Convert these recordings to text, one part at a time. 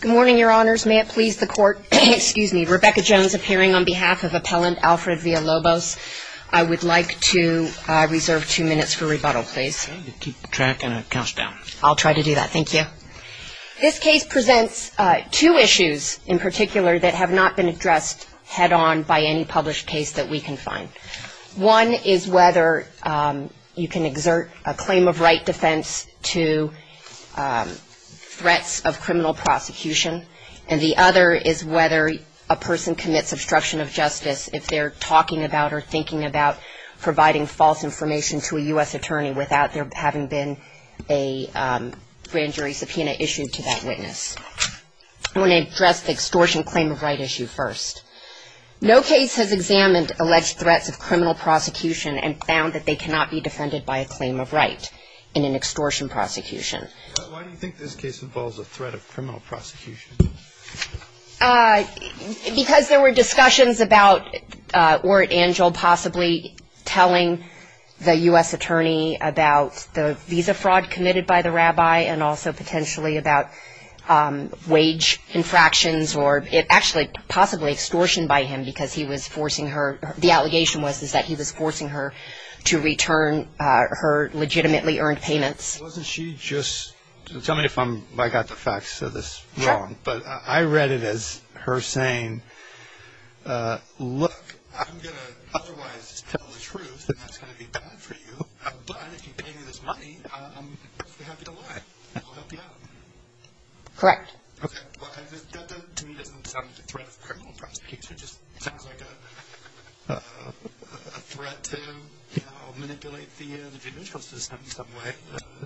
Good morning, Your Honors. May it please the Court, Rebecca Jones appearing on behalf of Appellant Alfred Villalobos. I would like to reserve two minutes for rebuttal, please. Keep track and it counts down. I'll try to do that. Thank you. This case presents two issues in particular that have not been addressed head on by any published case that we can find. One is whether you can exert a claim of right defense to threats of criminal prosecution. And the other is whether a person commits obstruction of justice if they're talking about or thinking about providing false information to a U.S. attorney without there having been a grand jury subpoena issued to that witness. I want to address the extortion claim of right issue first. No case has examined alleged threats of criminal prosecution and found that they cannot be defended by a claim of right in an extortion prosecution. Why do you think this case involves a threat of criminal prosecution? Because there were discussions about were Angel possibly telling the U.S. attorney about the visa fraud committed by the rabbi and also potentially about wage infractions or actually possibly extortion by him because he was forcing her, the allegation was that he was forcing her to return her legitimately earned payments. Wasn't she just tell me if I got the facts of this wrong, but I read it as her saying, look, I'm going to otherwise tell the truth and that's going to be bad for you. But if you pay me this money, I'm happy to lie. I'll help you out. Correct. Okay. Well, that to me doesn't sound like a threat of criminal prosecution. It just sounds like a threat to manipulate the judicial system in some way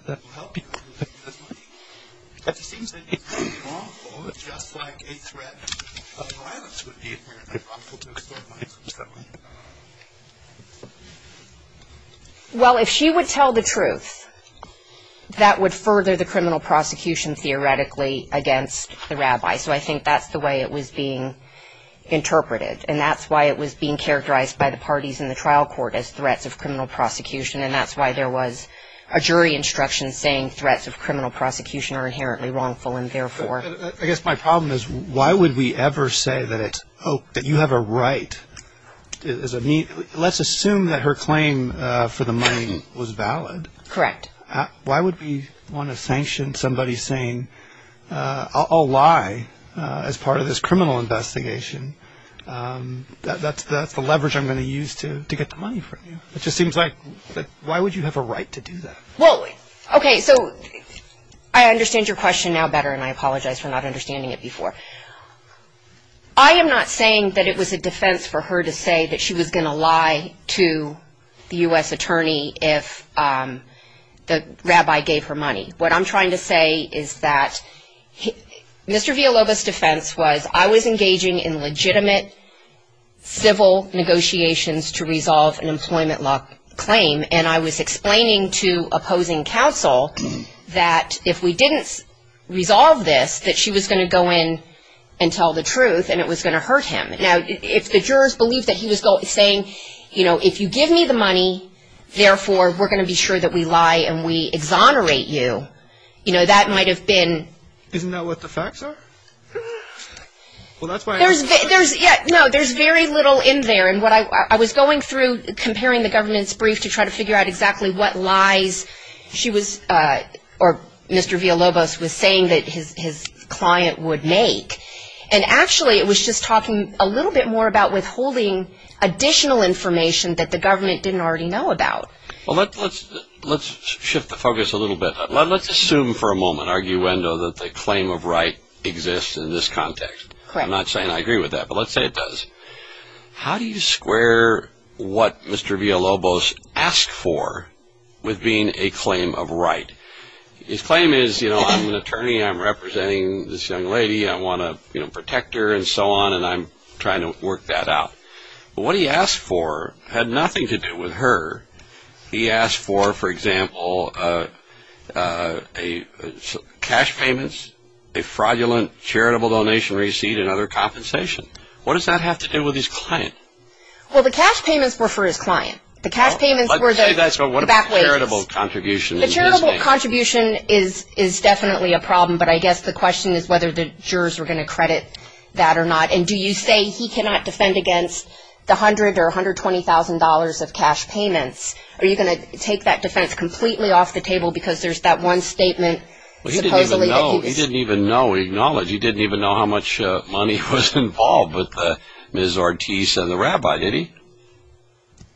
that will help you. It just seems to me wrongful, just like a threat of violence would be wrongful to extort money. Well, if she would tell the truth, that would further the criminal prosecution theoretically against the rabbi. So I think that's the way it was being interpreted, and that's why it was being characterized by the parties in the trial court as threats of criminal prosecution, and that's why there was a jury instruction saying threats of criminal prosecution are inherently wrongful and therefore. I guess my problem is why would we ever say that you have a right? Let's assume that her claim for the money was valid. Correct. Why would we want to sanction somebody saying I'll lie as part of this criminal investigation? That's the leverage I'm going to use to get the money from you. It just seems like why would you have a right to do that? Well, okay, so I understand your question now better, and I apologize for not understanding it before. I am not saying that it was a defense for her to say that she was going to lie to the U.S. attorney if the rabbi gave her money. What I'm trying to say is that Mr. Villalobos' defense was I was engaging in legitimate civil negotiations to resolve an employment law claim, and I was explaining to opposing counsel that if we didn't resolve this, that she was going to go in and tell the truth, and it was going to hurt him. Now, if the jurors believed that he was saying, you know, if you give me the money, therefore we're going to be sure that we lie and we exonerate you, you know, that might have been. Isn't that what the facts are? There's very little in there. And what I was going through comparing the government's brief to try to figure out exactly what lies she was or Mr. Villalobos was saying that his client would make, and actually it was just talking a little bit more about withholding additional information that the government didn't already know about. Well, let's shift the focus a little bit. Let's assume for a moment, arguendo, that the claim of right exists in this context. Correct. I'm not saying I agree with that, but let's say it does. How do you square what Mr. Villalobos asked for with being a claim of right? His claim is, you know, I'm an attorney. I'm representing this young lady. I want to, you know, protect her and so on, and I'm trying to work that out. But what he asked for had nothing to do with her. He asked for, for example, cash payments, a fraudulent charitable donation receipt, and other compensation. What does that have to do with his client? Well, the cash payments were for his client. The cash payments were the back wages. Let's say that's what a charitable contribution is. A charitable contribution is definitely a problem, but I guess the question is whether the jurors are going to credit that or not, and do you say he cannot defend against the $100,000 or $120,000 of cash payments? Are you going to take that defense completely off the table because there's that one statement supposedly that he's… He didn't even know, acknowledge, he didn't even know how much money was involved with Ms. Ortiz and the rabbi, did he?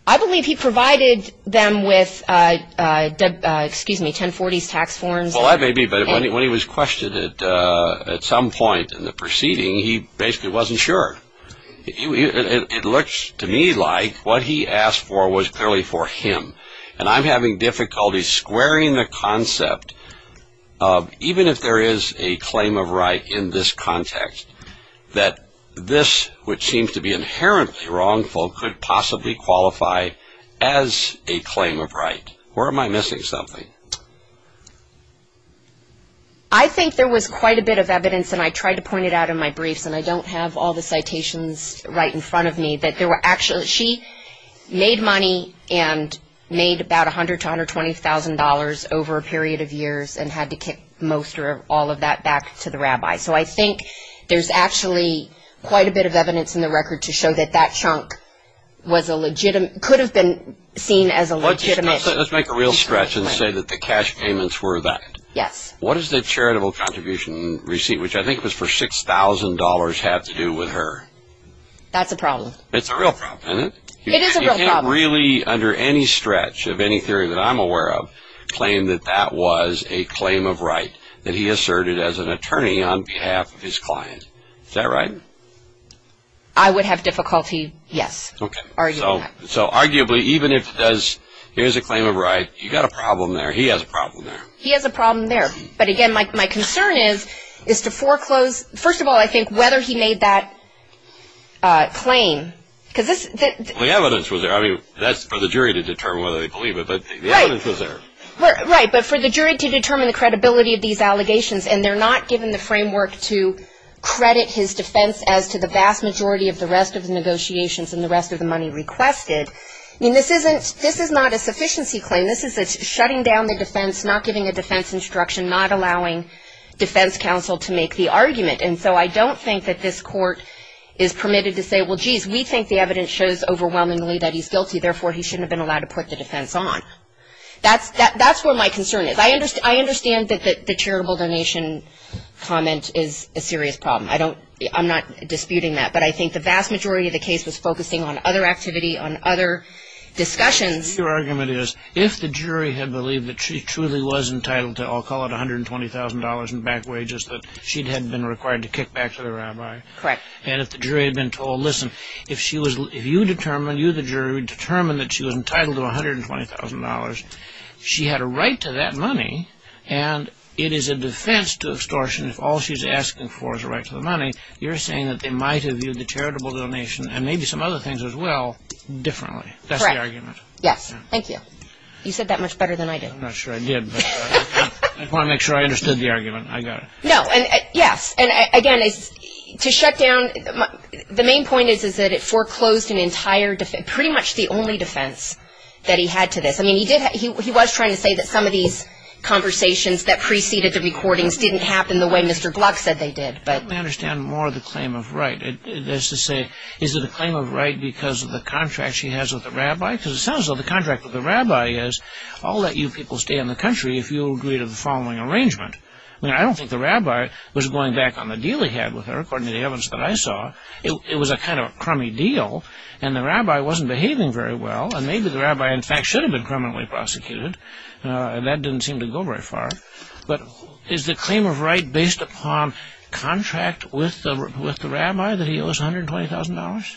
I believe he provided them with, excuse me, 1040s tax forms. Well, that may be, but when he was questioned at some point in the proceeding, he basically wasn't sure. It looks to me like what he asked for was clearly for him, and I'm having difficulty squaring the concept of even if there is a claim of right in this context, that this, which seems to be inherently wrongful, could possibly qualify as a claim of right. Or am I missing something? I think there was quite a bit of evidence, and I tried to point it out in my briefs, and I don't have all the citations right in front of me, but she made money and made about $100,000 to $120,000 over a period of years and had to kick most or all of that back to the rabbi. So I think there's actually quite a bit of evidence in the record to show that that chunk could have been seen as a legitimate… Let's make a real stretch and say that the cash payments were that. Yes. What does the charitable contribution receipt, which I think was for $6,000, have to do with her? That's a problem. It's a real problem, isn't it? It is a real problem. You can't really, under any stretch of any theory that I'm aware of, claim that that was a claim of right that he asserted as an attorney on behalf of his client. Is that right? I would have difficulty, yes, arguing that. So arguably, even if it does, here's a claim of right, you've got a problem there. He has a problem there. He has a problem there. But again, my concern is to foreclose. First of all, I think whether he made that claim. The evidence was there. I mean, that's for the jury to determine whether they believe it, but the evidence was there. Right, but for the jury to determine the credibility of these allegations, and they're not given the framework to credit his defense as to the vast majority of the rest of the negotiations and the rest of the money requested. I mean, this is not a sufficiency claim. This is shutting down the defense, not giving a defense instruction, not allowing defense counsel to make the argument. And so I don't think that this court is permitted to say, well, geez, we think the evidence shows overwhelmingly that he's guilty, therefore he shouldn't have been allowed to put the defense on. That's where my concern is. I understand that the charitable donation comment is a serious problem. I'm not disputing that. But I think the vast majority of the case was focusing on other activity, on other discussions. Your argument is, if the jury had believed that she truly was entitled to, I'll call it $120,000 in back wages, that she had been required to kick back to the rabbi. Correct. And if the jury had been told, listen, if you determine, you the jury, determine that she was entitled to $120,000, she had a right to that money, and it is a defense to extortion if all she's asking for is a right to the money. You're saying that they might have viewed the charitable donation, and maybe some other things as well, differently. That's the argument. Yes. Thank you. You said that much better than I did. I'm not sure I did, but I want to make sure I understood the argument. I got it. No. Yes. And, again, to shut down, the main point is that it foreclosed an entire defense, pretty much the only defense that he had to this. I mean, he was trying to say that some of these conversations that preceded the recordings didn't happen the way Mr. Block said they did. I understand more the claim of right. Is it a claim of right because of the contract she has with the rabbi? Because it sounds like the contract with the rabbi is, I'll let you people stay in the country if you agree to the following arrangement. I mean, I don't think the rabbi was going back on the deal he had with her, according to the evidence that I saw. It was a kind of crummy deal, and the rabbi wasn't behaving very well, and maybe the rabbi, in fact, should have been criminally prosecuted. That didn't seem to go very far. But is the claim of right based upon contract with the rabbi? Did the rabbi say that he owes $120,000?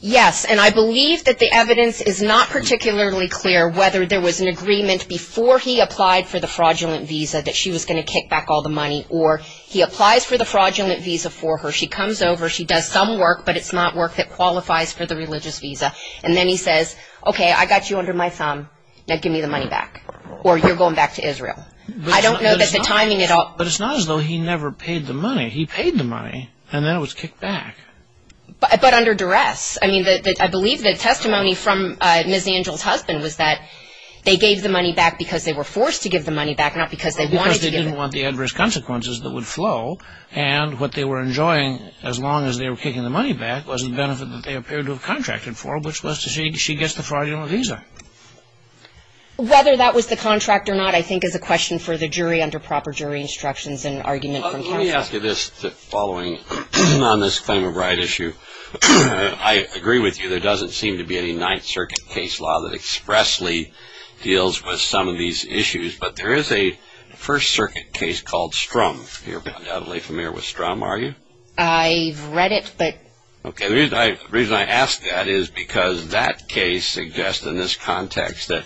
Yes, and I believe that the evidence is not particularly clear whether there was an agreement before he applied for the fraudulent visa that she was going to kick back all the money, or he applies for the fraudulent visa for her, she comes over, she does some work, but it's not work that qualifies for the religious visa, and then he says, okay, I got you under my thumb, now give me the money back, or you're going back to Israel. I don't know that the timing at all. But it's not as though he never paid the money. He paid the money, and then it was kicked back. But under duress. I mean, I believe the testimony from Ms. Angel's husband was that they gave the money back because they were forced to give the money back, not because they wanted to give it. Because they didn't want the adverse consequences that would flow, and what they were enjoying as long as they were kicking the money back was the benefit that they appeared to have contracted for, which was that she gets the fraudulent visa. Whether that was the contract or not, I think, is a question for the jury under proper jury instructions and argument from counsel. Let me ask you this following on this claim of right issue. I agree with you. There doesn't seem to be any Ninth Circuit case law that expressly deals with some of these issues, but there is a First Circuit case called Strum. You're undoubtedly familiar with Strum, are you? I've read it, but. Okay, the reason I ask that is because that case suggests in this context that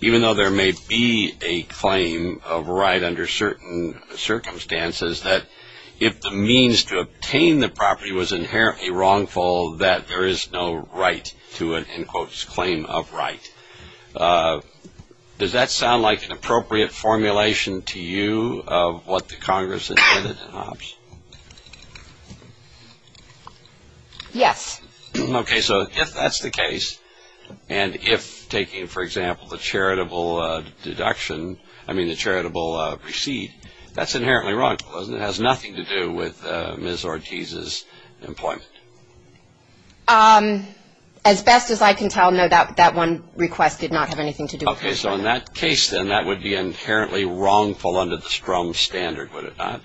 even though there may be a claim of right under certain circumstances, that if the means to obtain the property was inherently wrongful, that there is no right to an, in quotes, claim of right. Does that sound like an appropriate formulation to you of what the Congress has said in Hobbs? Yes. Okay, so if that's the case, and if taking, for example, the charitable deduction, I mean the charitable receipt, that's inherently wrongful, isn't it? It has nothing to do with Ms. Ortiz's employment. As best as I can tell, no, that one request did not have anything to do with her employment. Okay, so in that case, then, that would be inherently wrongful under the Strum standard, would it not?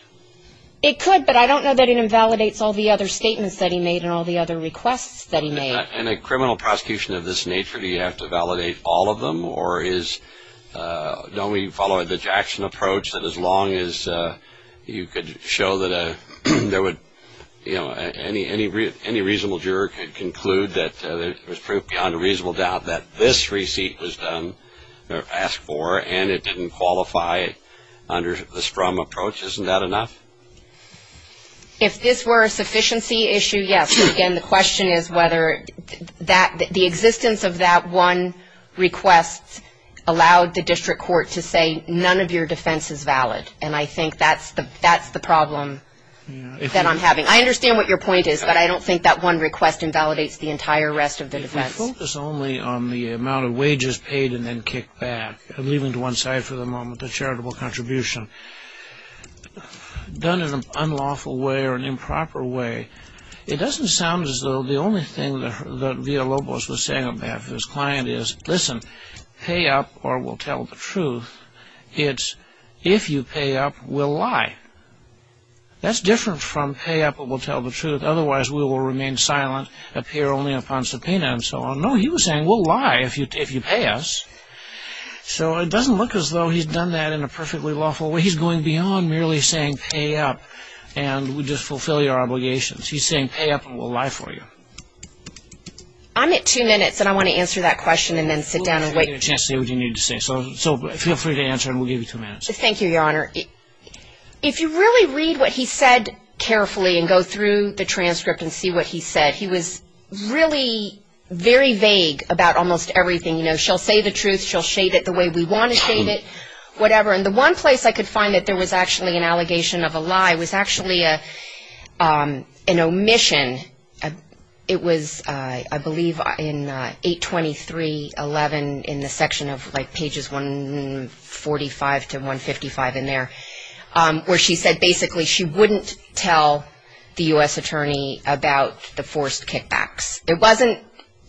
It could, but I don't know that it invalidates all the other statements that he made and all the other requests that he made. In a criminal prosecution of this nature, do you have to validate all of them? Or is, don't we follow the Jackson approach, that as long as you could show that there would, you know, any reasonable juror could conclude that there was proof beyond a reasonable doubt that this receipt was done or asked for, and it didn't qualify under the Strum approach, isn't that enough? If this were a sufficiency issue, yes. Again, the question is whether the existence of that one request allowed the district court to say, none of your defense is valid, and I think that's the problem that I'm having. I understand what your point is, but I don't think that one request invalidates the entire rest of the defense. If we focus only on the amount of wages paid and then kicked back, I'm leaving it to one side for the moment, the charitable contribution. Done in an unlawful way or an improper way, it doesn't sound as though the only thing that Villalobos was saying on behalf of his client is, listen, pay up or we'll tell the truth. It's, if you pay up, we'll lie. That's different from pay up or we'll tell the truth, otherwise we will remain silent, appear only upon subpoena and so on. No, he was saying, we'll lie if you pay us. So it doesn't look as though he's done that in a perfectly lawful way. He's going beyond merely saying pay up and we'll just fulfill your obligations. He's saying pay up and we'll lie for you. I'm at two minutes and I want to answer that question and then sit down and wait. We'll give you a chance to say what you need to say, so feel free to answer and we'll give you two minutes. Thank you, Your Honor. If you really read what he said carefully and go through the transcript and see what he said, he was really very vague about almost everything. You know, she'll say the truth, she'll shade it the way we want to shade it, whatever. And the one place I could find that there was actually an allegation of a lie was actually an omission. It was, I believe, in 823.11 in the section of like pages 145 to 155 in there, where she said basically she wouldn't tell the U.S. attorney about the forced kickbacks. It wasn't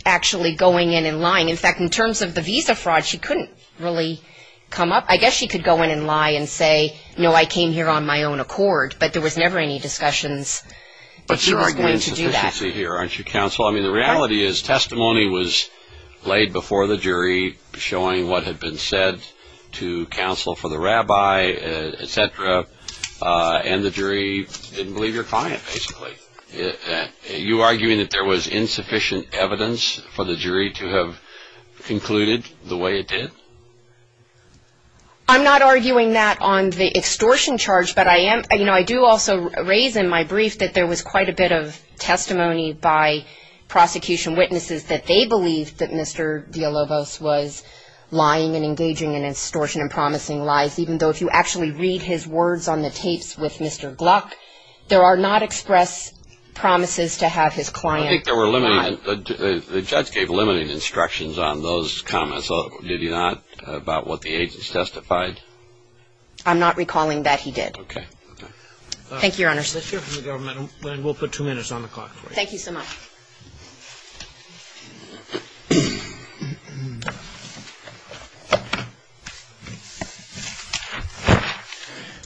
actually going in and lying. In fact, in terms of the visa fraud, she couldn't really come up. I guess she could go in and lie and say, no, I came here on my own accord, but there was never any discussions that she was going to do that. But you're arguing insufficiency here, aren't you, counsel? I mean, the reality is testimony was laid before the jury, showing what had been said to counsel for the rabbi, et cetera, and the jury didn't believe your client, basically. You're arguing that there was insufficient evidence for the jury to have concluded the way it did? I'm not arguing that on the extortion charge, but I am. You know, I do also raise in my brief that there was quite a bit of testimony by prosecution witnesses that they believed that Mr. Diallobos was lying and engaging in extortion and promising lies, even though if you actually read his words on the tapes with Mr. Gluck, there are not expressed promises to have his client lie. I think the judge gave limiting instructions on those comments, did he not, about what the agents testified? I'm not recalling that he did. Okay. Thank you, Your Honors. Let's hear from the government, and we'll put two minutes on the clock for you. Thank you so much.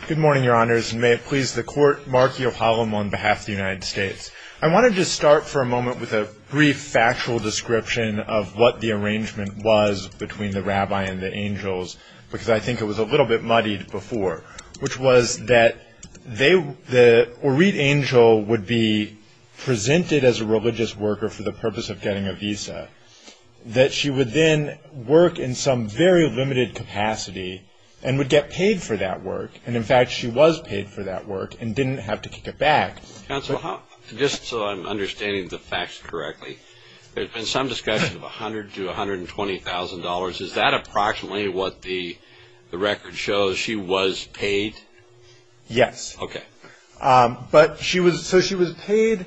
Good morning, Your Honors, and may it please the Court, Mark Yohalam on behalf of the United States. I wanted to start for a moment with a brief factual description of what the arrangement was between the rabbi and the angels, because I think it was a little bit muddied before, which was that Orit Angel would be presented as a religious worker for the purpose of getting a visa, that she would then work in some very limited capacity and would get paid for that work. And, in fact, she was paid for that work and didn't have to kick it back. Counsel, just so I'm understanding the facts correctly, there's been some discussion of $100,000 to $120,000. Is that approximately what the record shows she was paid? Yes. Okay. So she was paid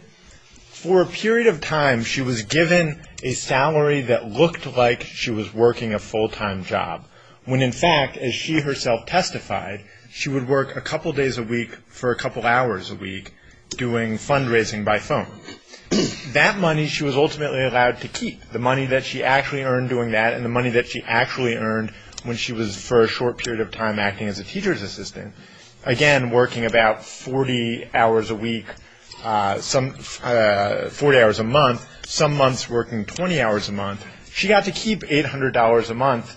for a period of time. She was given a salary that looked like she was working a full-time job, when, in fact, as she herself testified, she would work a couple days a week for a couple hours a week doing fundraising by phone. That money she was ultimately allowed to keep, the money that she actually earned doing that and the money that she actually earned when she was for a short period of time acting as a teacher's assistant. Again, working about 40 hours a week, 40 hours a month, some months working 20 hours a month. She got to keep $800 a month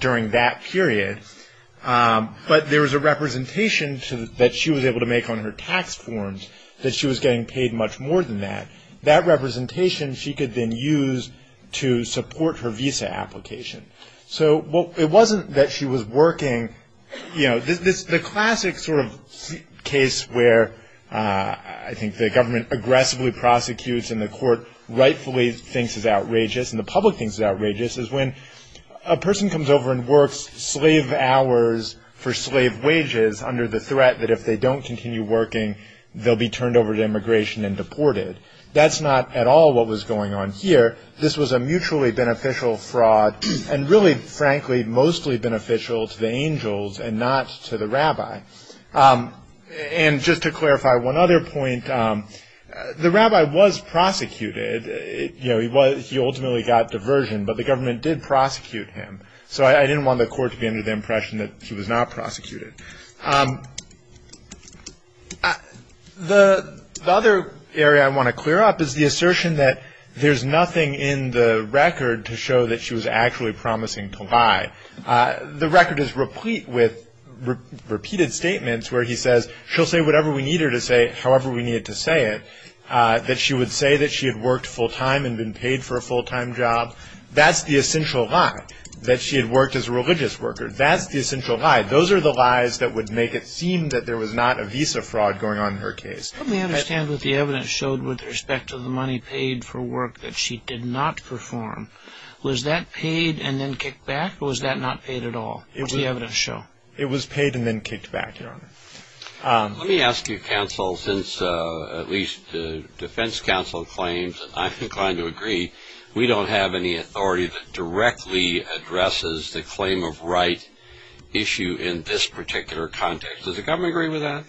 during that period. But there was a representation that she was able to make on her tax forms that she was getting paid much more than that. That representation she could then use to support her visa application. So it wasn't that she was working. The classic sort of case where I think the government aggressively prosecutes and the court rightfully thinks is outrageous and the public thinks is outrageous is when a person comes over and works slave hours for slave wages under the threat that if they don't continue working, they'll be turned over to immigration and deported. That's not at all what was going on here. This was a mutually beneficial fraud and really, frankly, mostly beneficial to the angels and not to the rabbi. And just to clarify one other point, the rabbi was prosecuted. He ultimately got diversion, but the government did prosecute him. So I didn't want the court to be under the impression that he was not prosecuted. The other area I want to clear up is the assertion that there's nothing in the record to show that she was actually promising to lie. The record is replete with repeated statements where he says she'll say whatever we need her to say, however we need her to say it, that she would say that she had worked full-time and been paid for a full-time job. That's the essential lie, that she had worked as a religious worker. That's the essential lie. Those are the lies that would make it seem that there was not a visa fraud going on in her case. Let me understand what the evidence showed with respect to the money paid for work that she did not perform. Was that paid and then kicked back, or was that not paid at all? What does the evidence show? It was paid and then kicked back, Your Honor. Let me ask you, counsel, since at least the defense counsel claims, and I'm inclined to agree, we don't have any authority that directly addresses the claim of right issue in this particular context. Does the government agree with that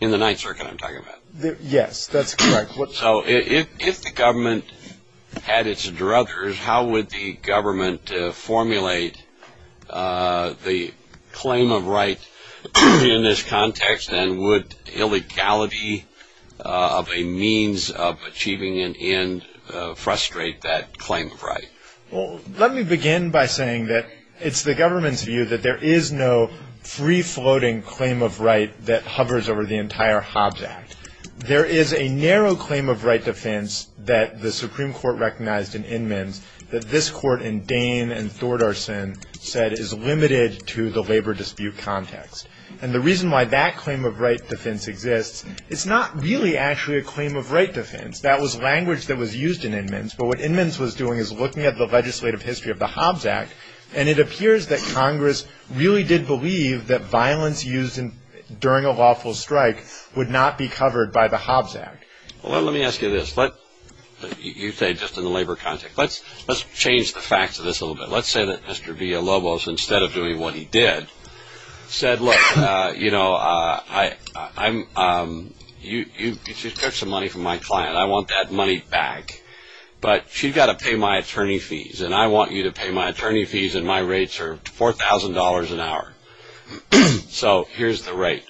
in the Ninth Circuit I'm talking about? Yes, that's correct. So if the government had its druthers, how would the government formulate the claim of right in this context, and would illegality of a means of achieving an end frustrate that claim of right? Well, let me begin by saying that it's the government's view that there is no free-floating claim of right that hovers over the entire Hobbs Act. There is a narrow claim of right defense that the Supreme Court recognized in Inman's that this Court in Dane and Thordarson said is limited to the labor dispute context. And the reason why that claim of right defense exists, it's not really actually a claim of right defense. That was language that was used in Inman's, but what Inman's was doing is looking at the legislative history of the Hobbs Act, and it appears that Congress really did believe that violence used during a lawful strike would not be covered by the Hobbs Act. Well, let me ask you this. You say just in the labor context. Let's change the facts of this a little bit. Let's say that Mr. Villalobos, instead of doing what he did, said, look, you know, you took some money from my client. I want that money back, but she's got to pay my attorney fees, and I want you to pay my attorney fees, and my rates are $4,000 an hour. So here's the rate,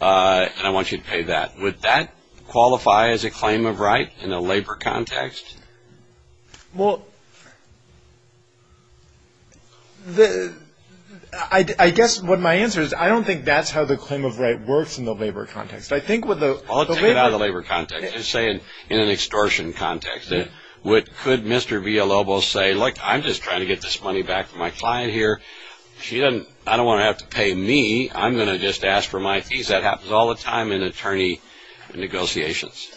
and I want you to pay that. Would that qualify as a claim of right in a labor context? Well, I guess what my answer is, I don't think that's how the claim of right works in the labor context. I'll take it out of the labor context. I'm just saying in an extortion context. Could Mr. Villalobos say, look, I'm just trying to get this money back from my client here. I don't want to have to pay me. I'm going to just ask for my fees. That happens all the time in attorney negotiations.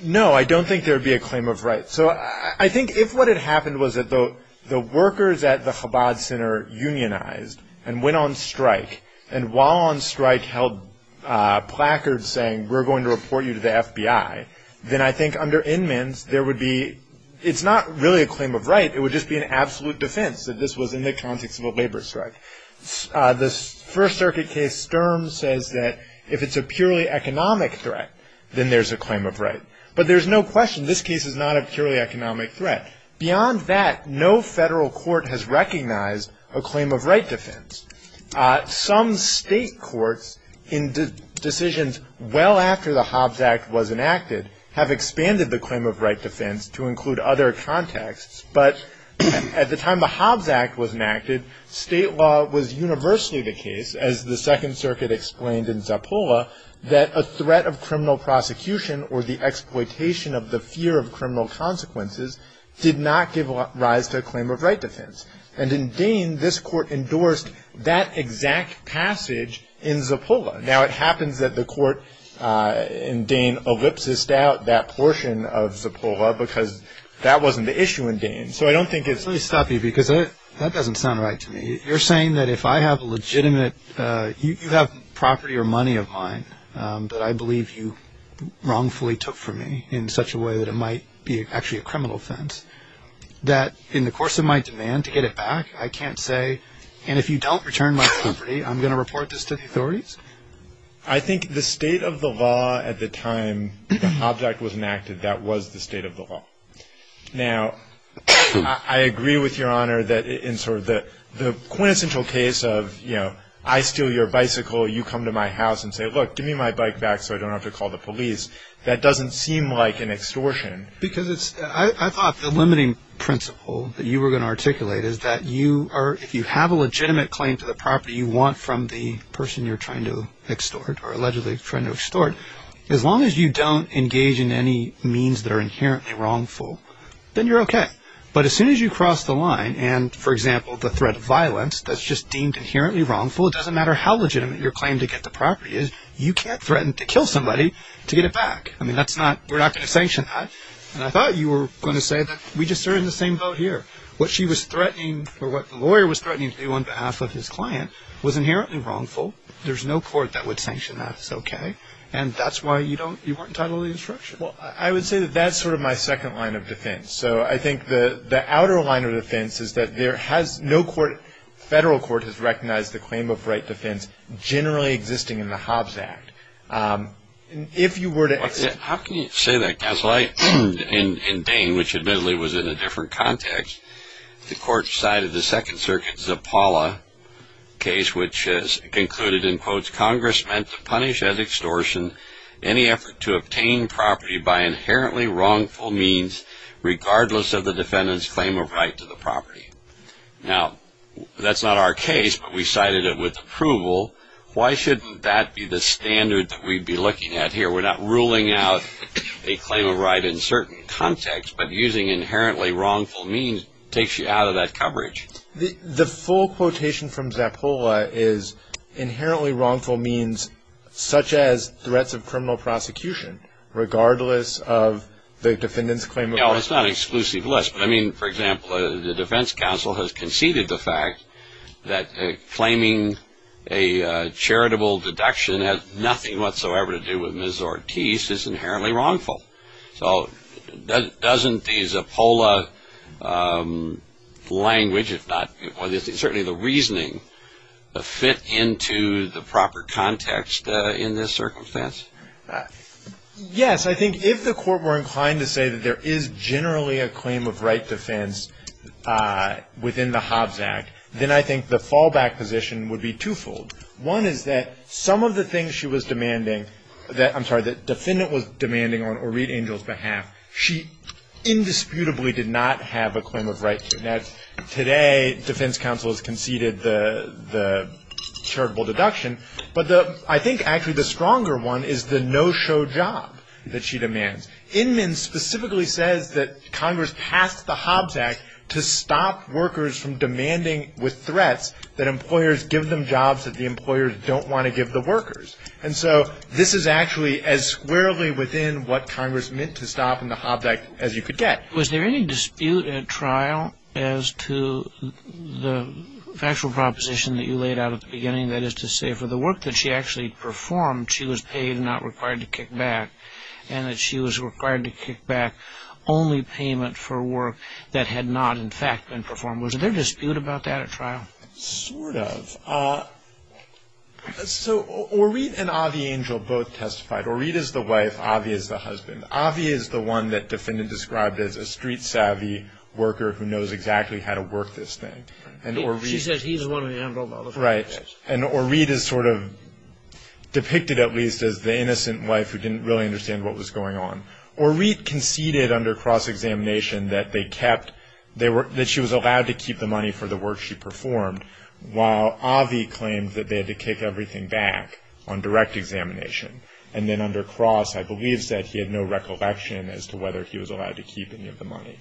No, I don't think there would be a claim of right. So I think if what had happened was that the workers at the Chabad Center unionized and went on strike, and while on strike held placards saying we're going to report you to the FBI, then I think under Inman's, there would be, it's not really a claim of right. It would just be an absolute defense that this was in the context of a labor strike. The First Circuit case Sturm says that if it's a purely economic threat, then there's a claim of right. But there's no question this case is not a purely economic threat. Beyond that, no federal court has recognized a claim of right defense. Some state courts in decisions well after the Hobbs Act was enacted have expanded the claim of right defense to include other contexts. But at the time the Hobbs Act was enacted, state law was universally the case, as the Second Circuit explained in Zappola, that a threat of criminal prosecution or the exploitation of the fear of criminal consequences did not give rise to a claim of right defense. And in Dane, this court endorsed that exact passage in Zappola. Now, it happens that the court in Dane ellipses out that portion of Zappola because that wasn't the issue in Dane. So I don't think it's... Let me stop you because that doesn't sound right to me. You're saying that if I have a legitimate, you have property or money of mine that I believe you wrongfully took from me in such a way that it might be actually a criminal offense, that in the course of my demand to get it back, I can't say, and if you don't return my property, I'm going to report this to the authorities? I think the state of the law at the time the Hobbs Act was enacted, that was the state of the law. Now, I agree with Your Honor that in sort of the quintessential case of, you know, I steal your bicycle, you come to my house and say, look, give me my bike back so I don't have to call the police. That doesn't seem like an extortion. Because it's... I thought the limiting principle that you were going to articulate is that you are... you want from the person you're trying to extort or allegedly trying to extort. As long as you don't engage in any means that are inherently wrongful, then you're okay. But as soon as you cross the line and, for example, the threat of violence that's just deemed inherently wrongful, it doesn't matter how legitimate your claim to get the property is, you can't threaten to kill somebody to get it back. I mean, that's not... We're not going to sanction that. And I thought you were going to say that we just are in the same boat here. What she was threatening or what the lawyer was threatening to do on behalf of his client was inherently wrongful. There's no court that would sanction that. It's okay. And that's why you don't... you weren't entitled to the instruction. Well, I would say that that's sort of my second line of defense. So I think the outer line of defense is that there has... no court, federal court, has recognized the claim of right defense generally existing in the Hobbs Act. If you were to... How can you say that, Counsel? In Dane, which admittedly was in a different context, the court cited the Second Circuit's Zappala case, which concluded, in quotes, Congress meant to punish as extortion any effort to obtain property by inherently wrongful means, regardless of the defendant's claim of right to the property. Now, that's not our case, but we cited it with approval. Why shouldn't that be the standard that we'd be looking at here? We're not ruling out a claim of right in certain contexts, but using inherently wrongful means takes you out of that coverage. The full quotation from Zappala is inherently wrongful means such as threats of criminal prosecution, regardless of the defendant's claim of right. No, it's not an exclusive list, but, I mean, for example, the defense counsel has conceded the fact that claiming a charitable deduction has nothing whatsoever to do with Ms. Ortiz is inherently wrongful. So doesn't the Zappala language, if not certainly the reasoning, fit into the proper context in this circumstance? Yes. I think if the court were inclined to say that there is generally a claim of right defense within the Hobbs Act, then I think the fallback position would be twofold. One is that some of the things she was demanding, I'm sorry, that the defendant was demanding on Orit Angel's behalf, she indisputably did not have a claim of right to. Now, today defense counsel has conceded the charitable deduction, but I think actually the stronger one is the no-show job that she demands. Inman specifically says that Congress passed the Hobbs Act to stop workers from demanding with threats that employers give them jobs that the employers don't want to give the workers. And so this is actually as squarely within what Congress meant to stop in the Hobbs Act as you could get. Was there any dispute at trial as to the factual proposition that you laid out at the beginning, that is to say for the work that she actually performed, she was paid and not required to kick back, and that she was required to kick back only payment for work that had not, in fact, been performed? Was there dispute about that at trial? Sort of. So Orit and Avi Angel both testified. Orit is the wife. Avi is the husband. Avi is the one that defendant described as a street-savvy worker who knows exactly how to work this thing. She says he's the one who handled all of it. Right. And Orit is sort of depicted at least as the innocent wife who didn't really understand what was going on. Orit conceded under cross-examination that she was allowed to keep the money for the work she performed, while Avi claimed that they had to kick everything back on direct examination. And then under cross, I believe, said he had no recollection as to whether he was allowed to keep any of the money.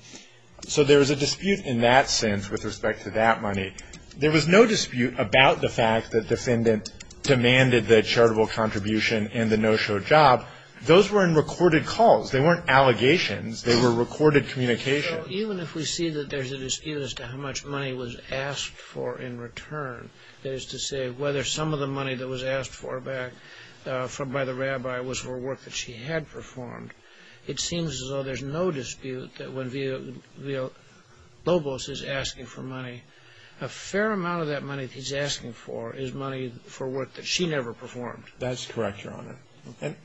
So there was a dispute in that sense with respect to that money. There was no dispute about the fact that defendant demanded the charitable contribution and the no-show job. Now, those weren't recorded calls. They weren't allegations. They were recorded communications. Even if we see that there's a dispute as to how much money was asked for in return, that is to say whether some of the money that was asked for by the rabbi was for work that she had performed, it seems as though there's no dispute that when Villalobos is asking for money, a fair amount of that money that he's asking for is money for work that she never performed. That's correct, Your Honor.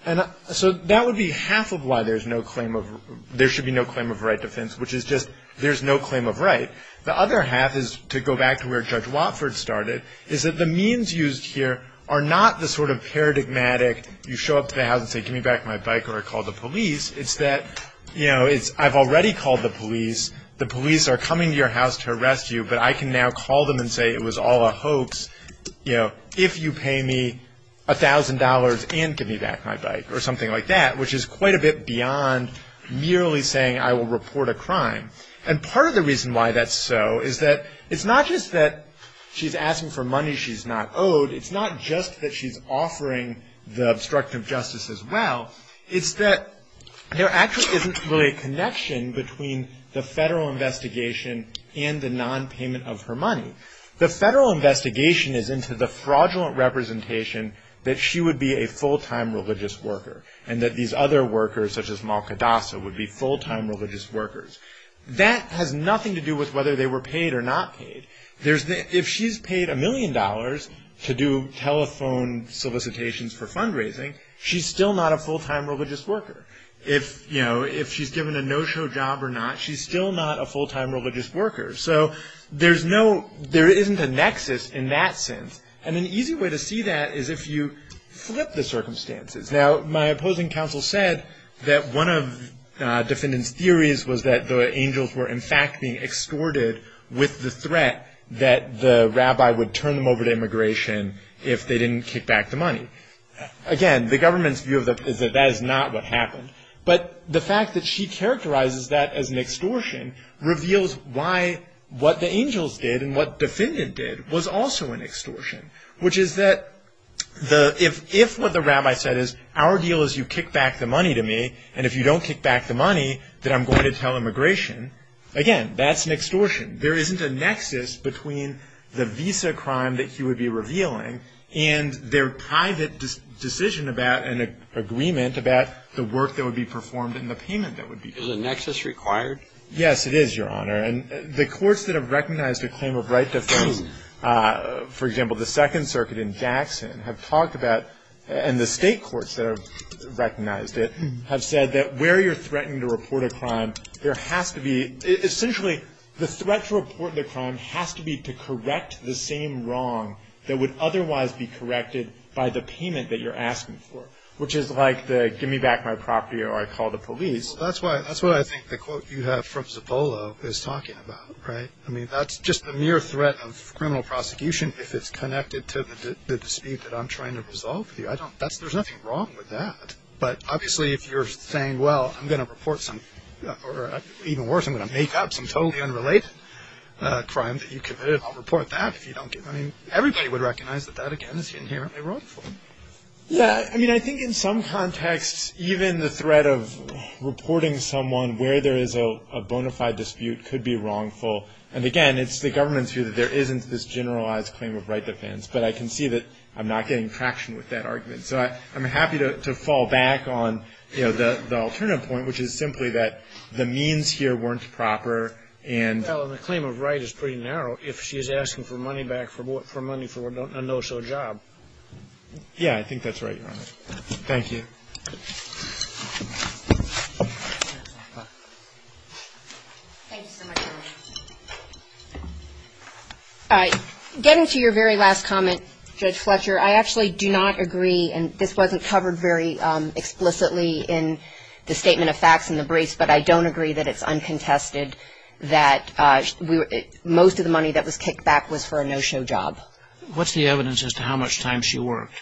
And so that would be half of why there should be no claim of right defense, which is just there's no claim of right. The other half is, to go back to where Judge Watford started, is that the means used here are not the sort of paradigmatic, you show up to the house and say, give me back my bike or I call the police. It's that, you know, I've already called the police. The police are coming to your house to arrest you, but I can now call them and say it was all a hoax, you know, if you pay me $1,000 and give me back my bike or something like that, which is quite a bit beyond merely saying I will report a crime. And part of the reason why that's so is that it's not just that she's asking for money she's not owed. It's not just that she's offering the obstruction of justice as well. It's that there actually isn't really a connection between the federal investigation and the nonpayment of her money. The federal investigation is into the fraudulent representation that she would be a full-time religious worker and that these other workers, such as Malcadasa, would be full-time religious workers. That has nothing to do with whether they were paid or not paid. If she's paid a million dollars to do telephone solicitations for fundraising, she's still not a full-time religious worker. If she's given a no-show job or not, she's still not a full-time religious worker. So there isn't a nexus in that sense. And an easy way to see that is if you flip the circumstances. Now, my opposing counsel said that one of the defendant's theories was that the angels were in fact being extorted with the threat that the rabbi would turn them over to immigration if they didn't kick back the money. Again, the government's view of that is that that is not what happened. But the fact that she characterizes that as an extortion reveals why what the angels did and what the defendant did was also an extortion, which is that if what the rabbi said is, our deal is you kick back the money to me, and if you don't kick back the money, then I'm going to tell immigration, again, that's an extortion. There isn't a nexus between the visa crime that he would be revealing and their private decision about an agreement about the work that would be performed and the payment that would be made. Is a nexus required? Yes, it is, Your Honor. And the courts that have recognized a claim of right to fame, for example, the Second Circuit in Jackson, have talked about and the state courts that have recognized it, have said that where you're threatening to report a crime, there has to be essentially the threat to report the crime has to be to correct the same wrong that would otherwise be corrected by the payment that you're asking for, which is like the give me back my property or I call the police. Well, that's what I think the quote you have from Zappolo is talking about, right? I mean, that's just the mere threat of criminal prosecution if it's connected to the dispute that I'm trying to resolve with you. There's nothing wrong with that. But obviously, if you're saying, well, I'm going to report some, or even worse, I'm going to make up some totally unrelated crime that you committed, then I'll report that if you don't give me. I mean, everybody would recognize that that, again, is inherently wrongful. Yeah. I mean, I think in some contexts, even the threat of reporting someone where there is a bona fide dispute could be wrongful. And, again, it's the government's view that there isn't this generalized claim of right defense. But I can see that I'm not getting traction with that argument. So I'm happy to fall back on, you know, the alternative point, which is simply that the means here weren't proper. Well, and the claim of right is pretty narrow. If she is asking for money back, for money for a no-show job. Yeah, I think that's right, Your Honor. Thank you. Thank you so much, Your Honor. All right. Getting to your very last comment, Judge Fletcher, I actually do not agree, and this wasn't covered very explicitly in the statement of facts in the briefs, but I don't agree that it's uncontested that most of the money that was kicked back was for a no-show job. What's the evidence as to how much time she worked?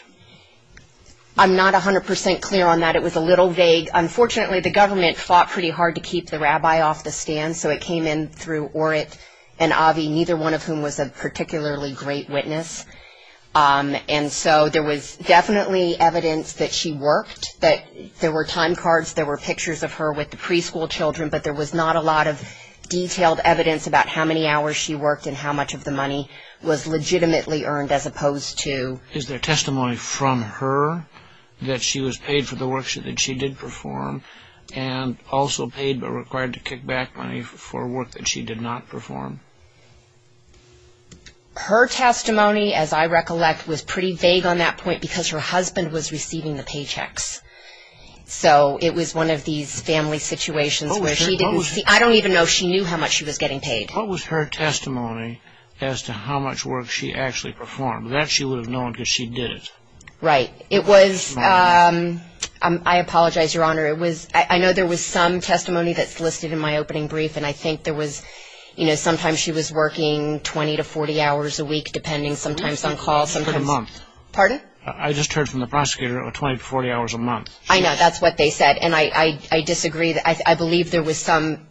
I'm not 100 percent clear on that. It was a little vague. Unfortunately, the government fought pretty hard to keep the rabbi off the stand, so it came in through Orit and Avi, neither one of whom was a particularly great witness. And so there was definitely evidence that she worked, that there were time cards, there were pictures of her with the preschool children, but there was not a lot of detailed evidence about how many hours she worked and how much of the money was legitimately earned as opposed to. Is there testimony from her that she was paid for the work that she did perform and also paid but required to kick back money for work that she did not perform? Her testimony, as I recollect, was pretty vague on that point because her husband was receiving the paychecks. So it was one of these family situations where she didn't see. I don't even know if she knew how much she was getting paid. What was her testimony as to how much work she actually performed? That she would have known because she did it. Right. It was, I apologize, Your Honor. I know there was some testimony that's listed in my opening brief, and I think there was, you know, sometimes she was working 20 to 40 hours a week, depending sometimes on calls, sometimes. I just heard a month. Pardon? I just heard from the prosecutor 20 to 40 hours a month. I know. That's what they said, and I disagree. I believe there was some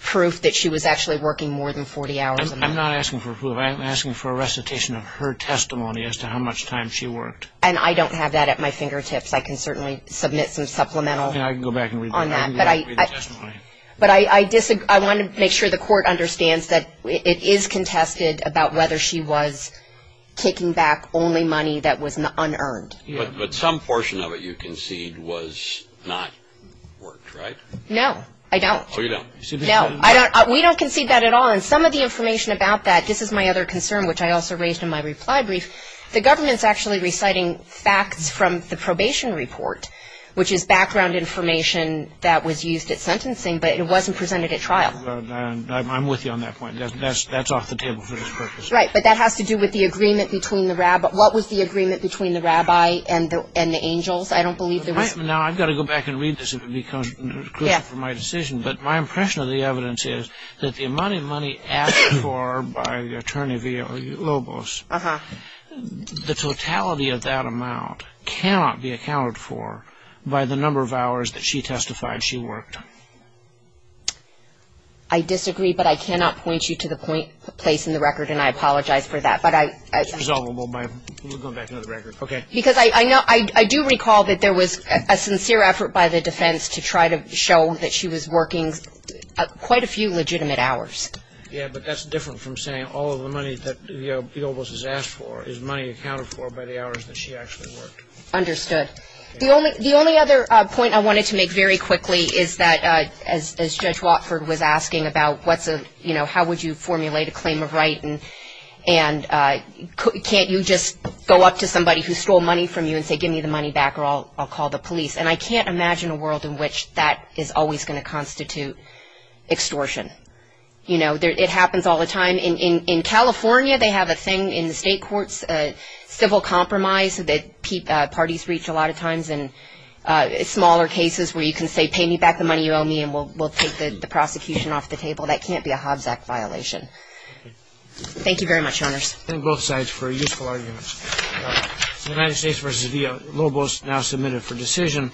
proof that she was actually working more than 40 hours a month. I'm not asking for proof. I'm asking for a recitation of her testimony as to how much time she worked. And I don't have that at my fingertips. I can certainly submit some supplemental on that. I can go back and read the testimony. But I want to make sure the court understands that it is contested about whether she was taking back only money that was unearned. But some portion of it you concede was not worked, right? No, I don't. Oh, you don't? No, we don't concede that at all. And some of the information about that, this is my other concern, which I also raised in my reply brief, the government's actually reciting facts from the probation report, which is background information that was used at sentencing, but it wasn't presented at trial. I'm with you on that point. That's off the table for this purpose. Right, but that has to do with the agreement between the rabbi. What was the agreement between the rabbi and the angels? I don't believe there was. Now, I've got to go back and read this. It would be crucial for my decision. But my impression of the evidence is that the amount of money asked for by Attorney Lobos, the totality of that amount cannot be accounted for by the number of hours that she testified she worked. I disagree, but I cannot point you to the place in the record, and I apologize for that. It's resolvable. We'll go back to another record. Okay. Because I do recall that there was a sincere effort by the defense to try to show that she was working quite a few legitimate hours. Yeah, but that's different from saying all of the money that, you know, he almost has asked for is money accounted for by the hours that she actually worked. Understood. The only other point I wanted to make very quickly is that as Judge Watford was asking about what's a, you know, how would you formulate a claim of right and can't you just go up to somebody who stole money from you and say give me the money back or I'll call the police. And I can't imagine a world in which that is always going to constitute extortion. You know, it happens all the time. In California, they have a thing in the state courts, civil compromise, that parties reach a lot of times in smaller cases where you can say pay me back the money you owe me and we'll take the prosecution off the table. That can't be a Hobbs Act violation. Thank you very much, Honors. Thank you both sides for your useful arguments. The United States versus the Lobos now submitted for decision.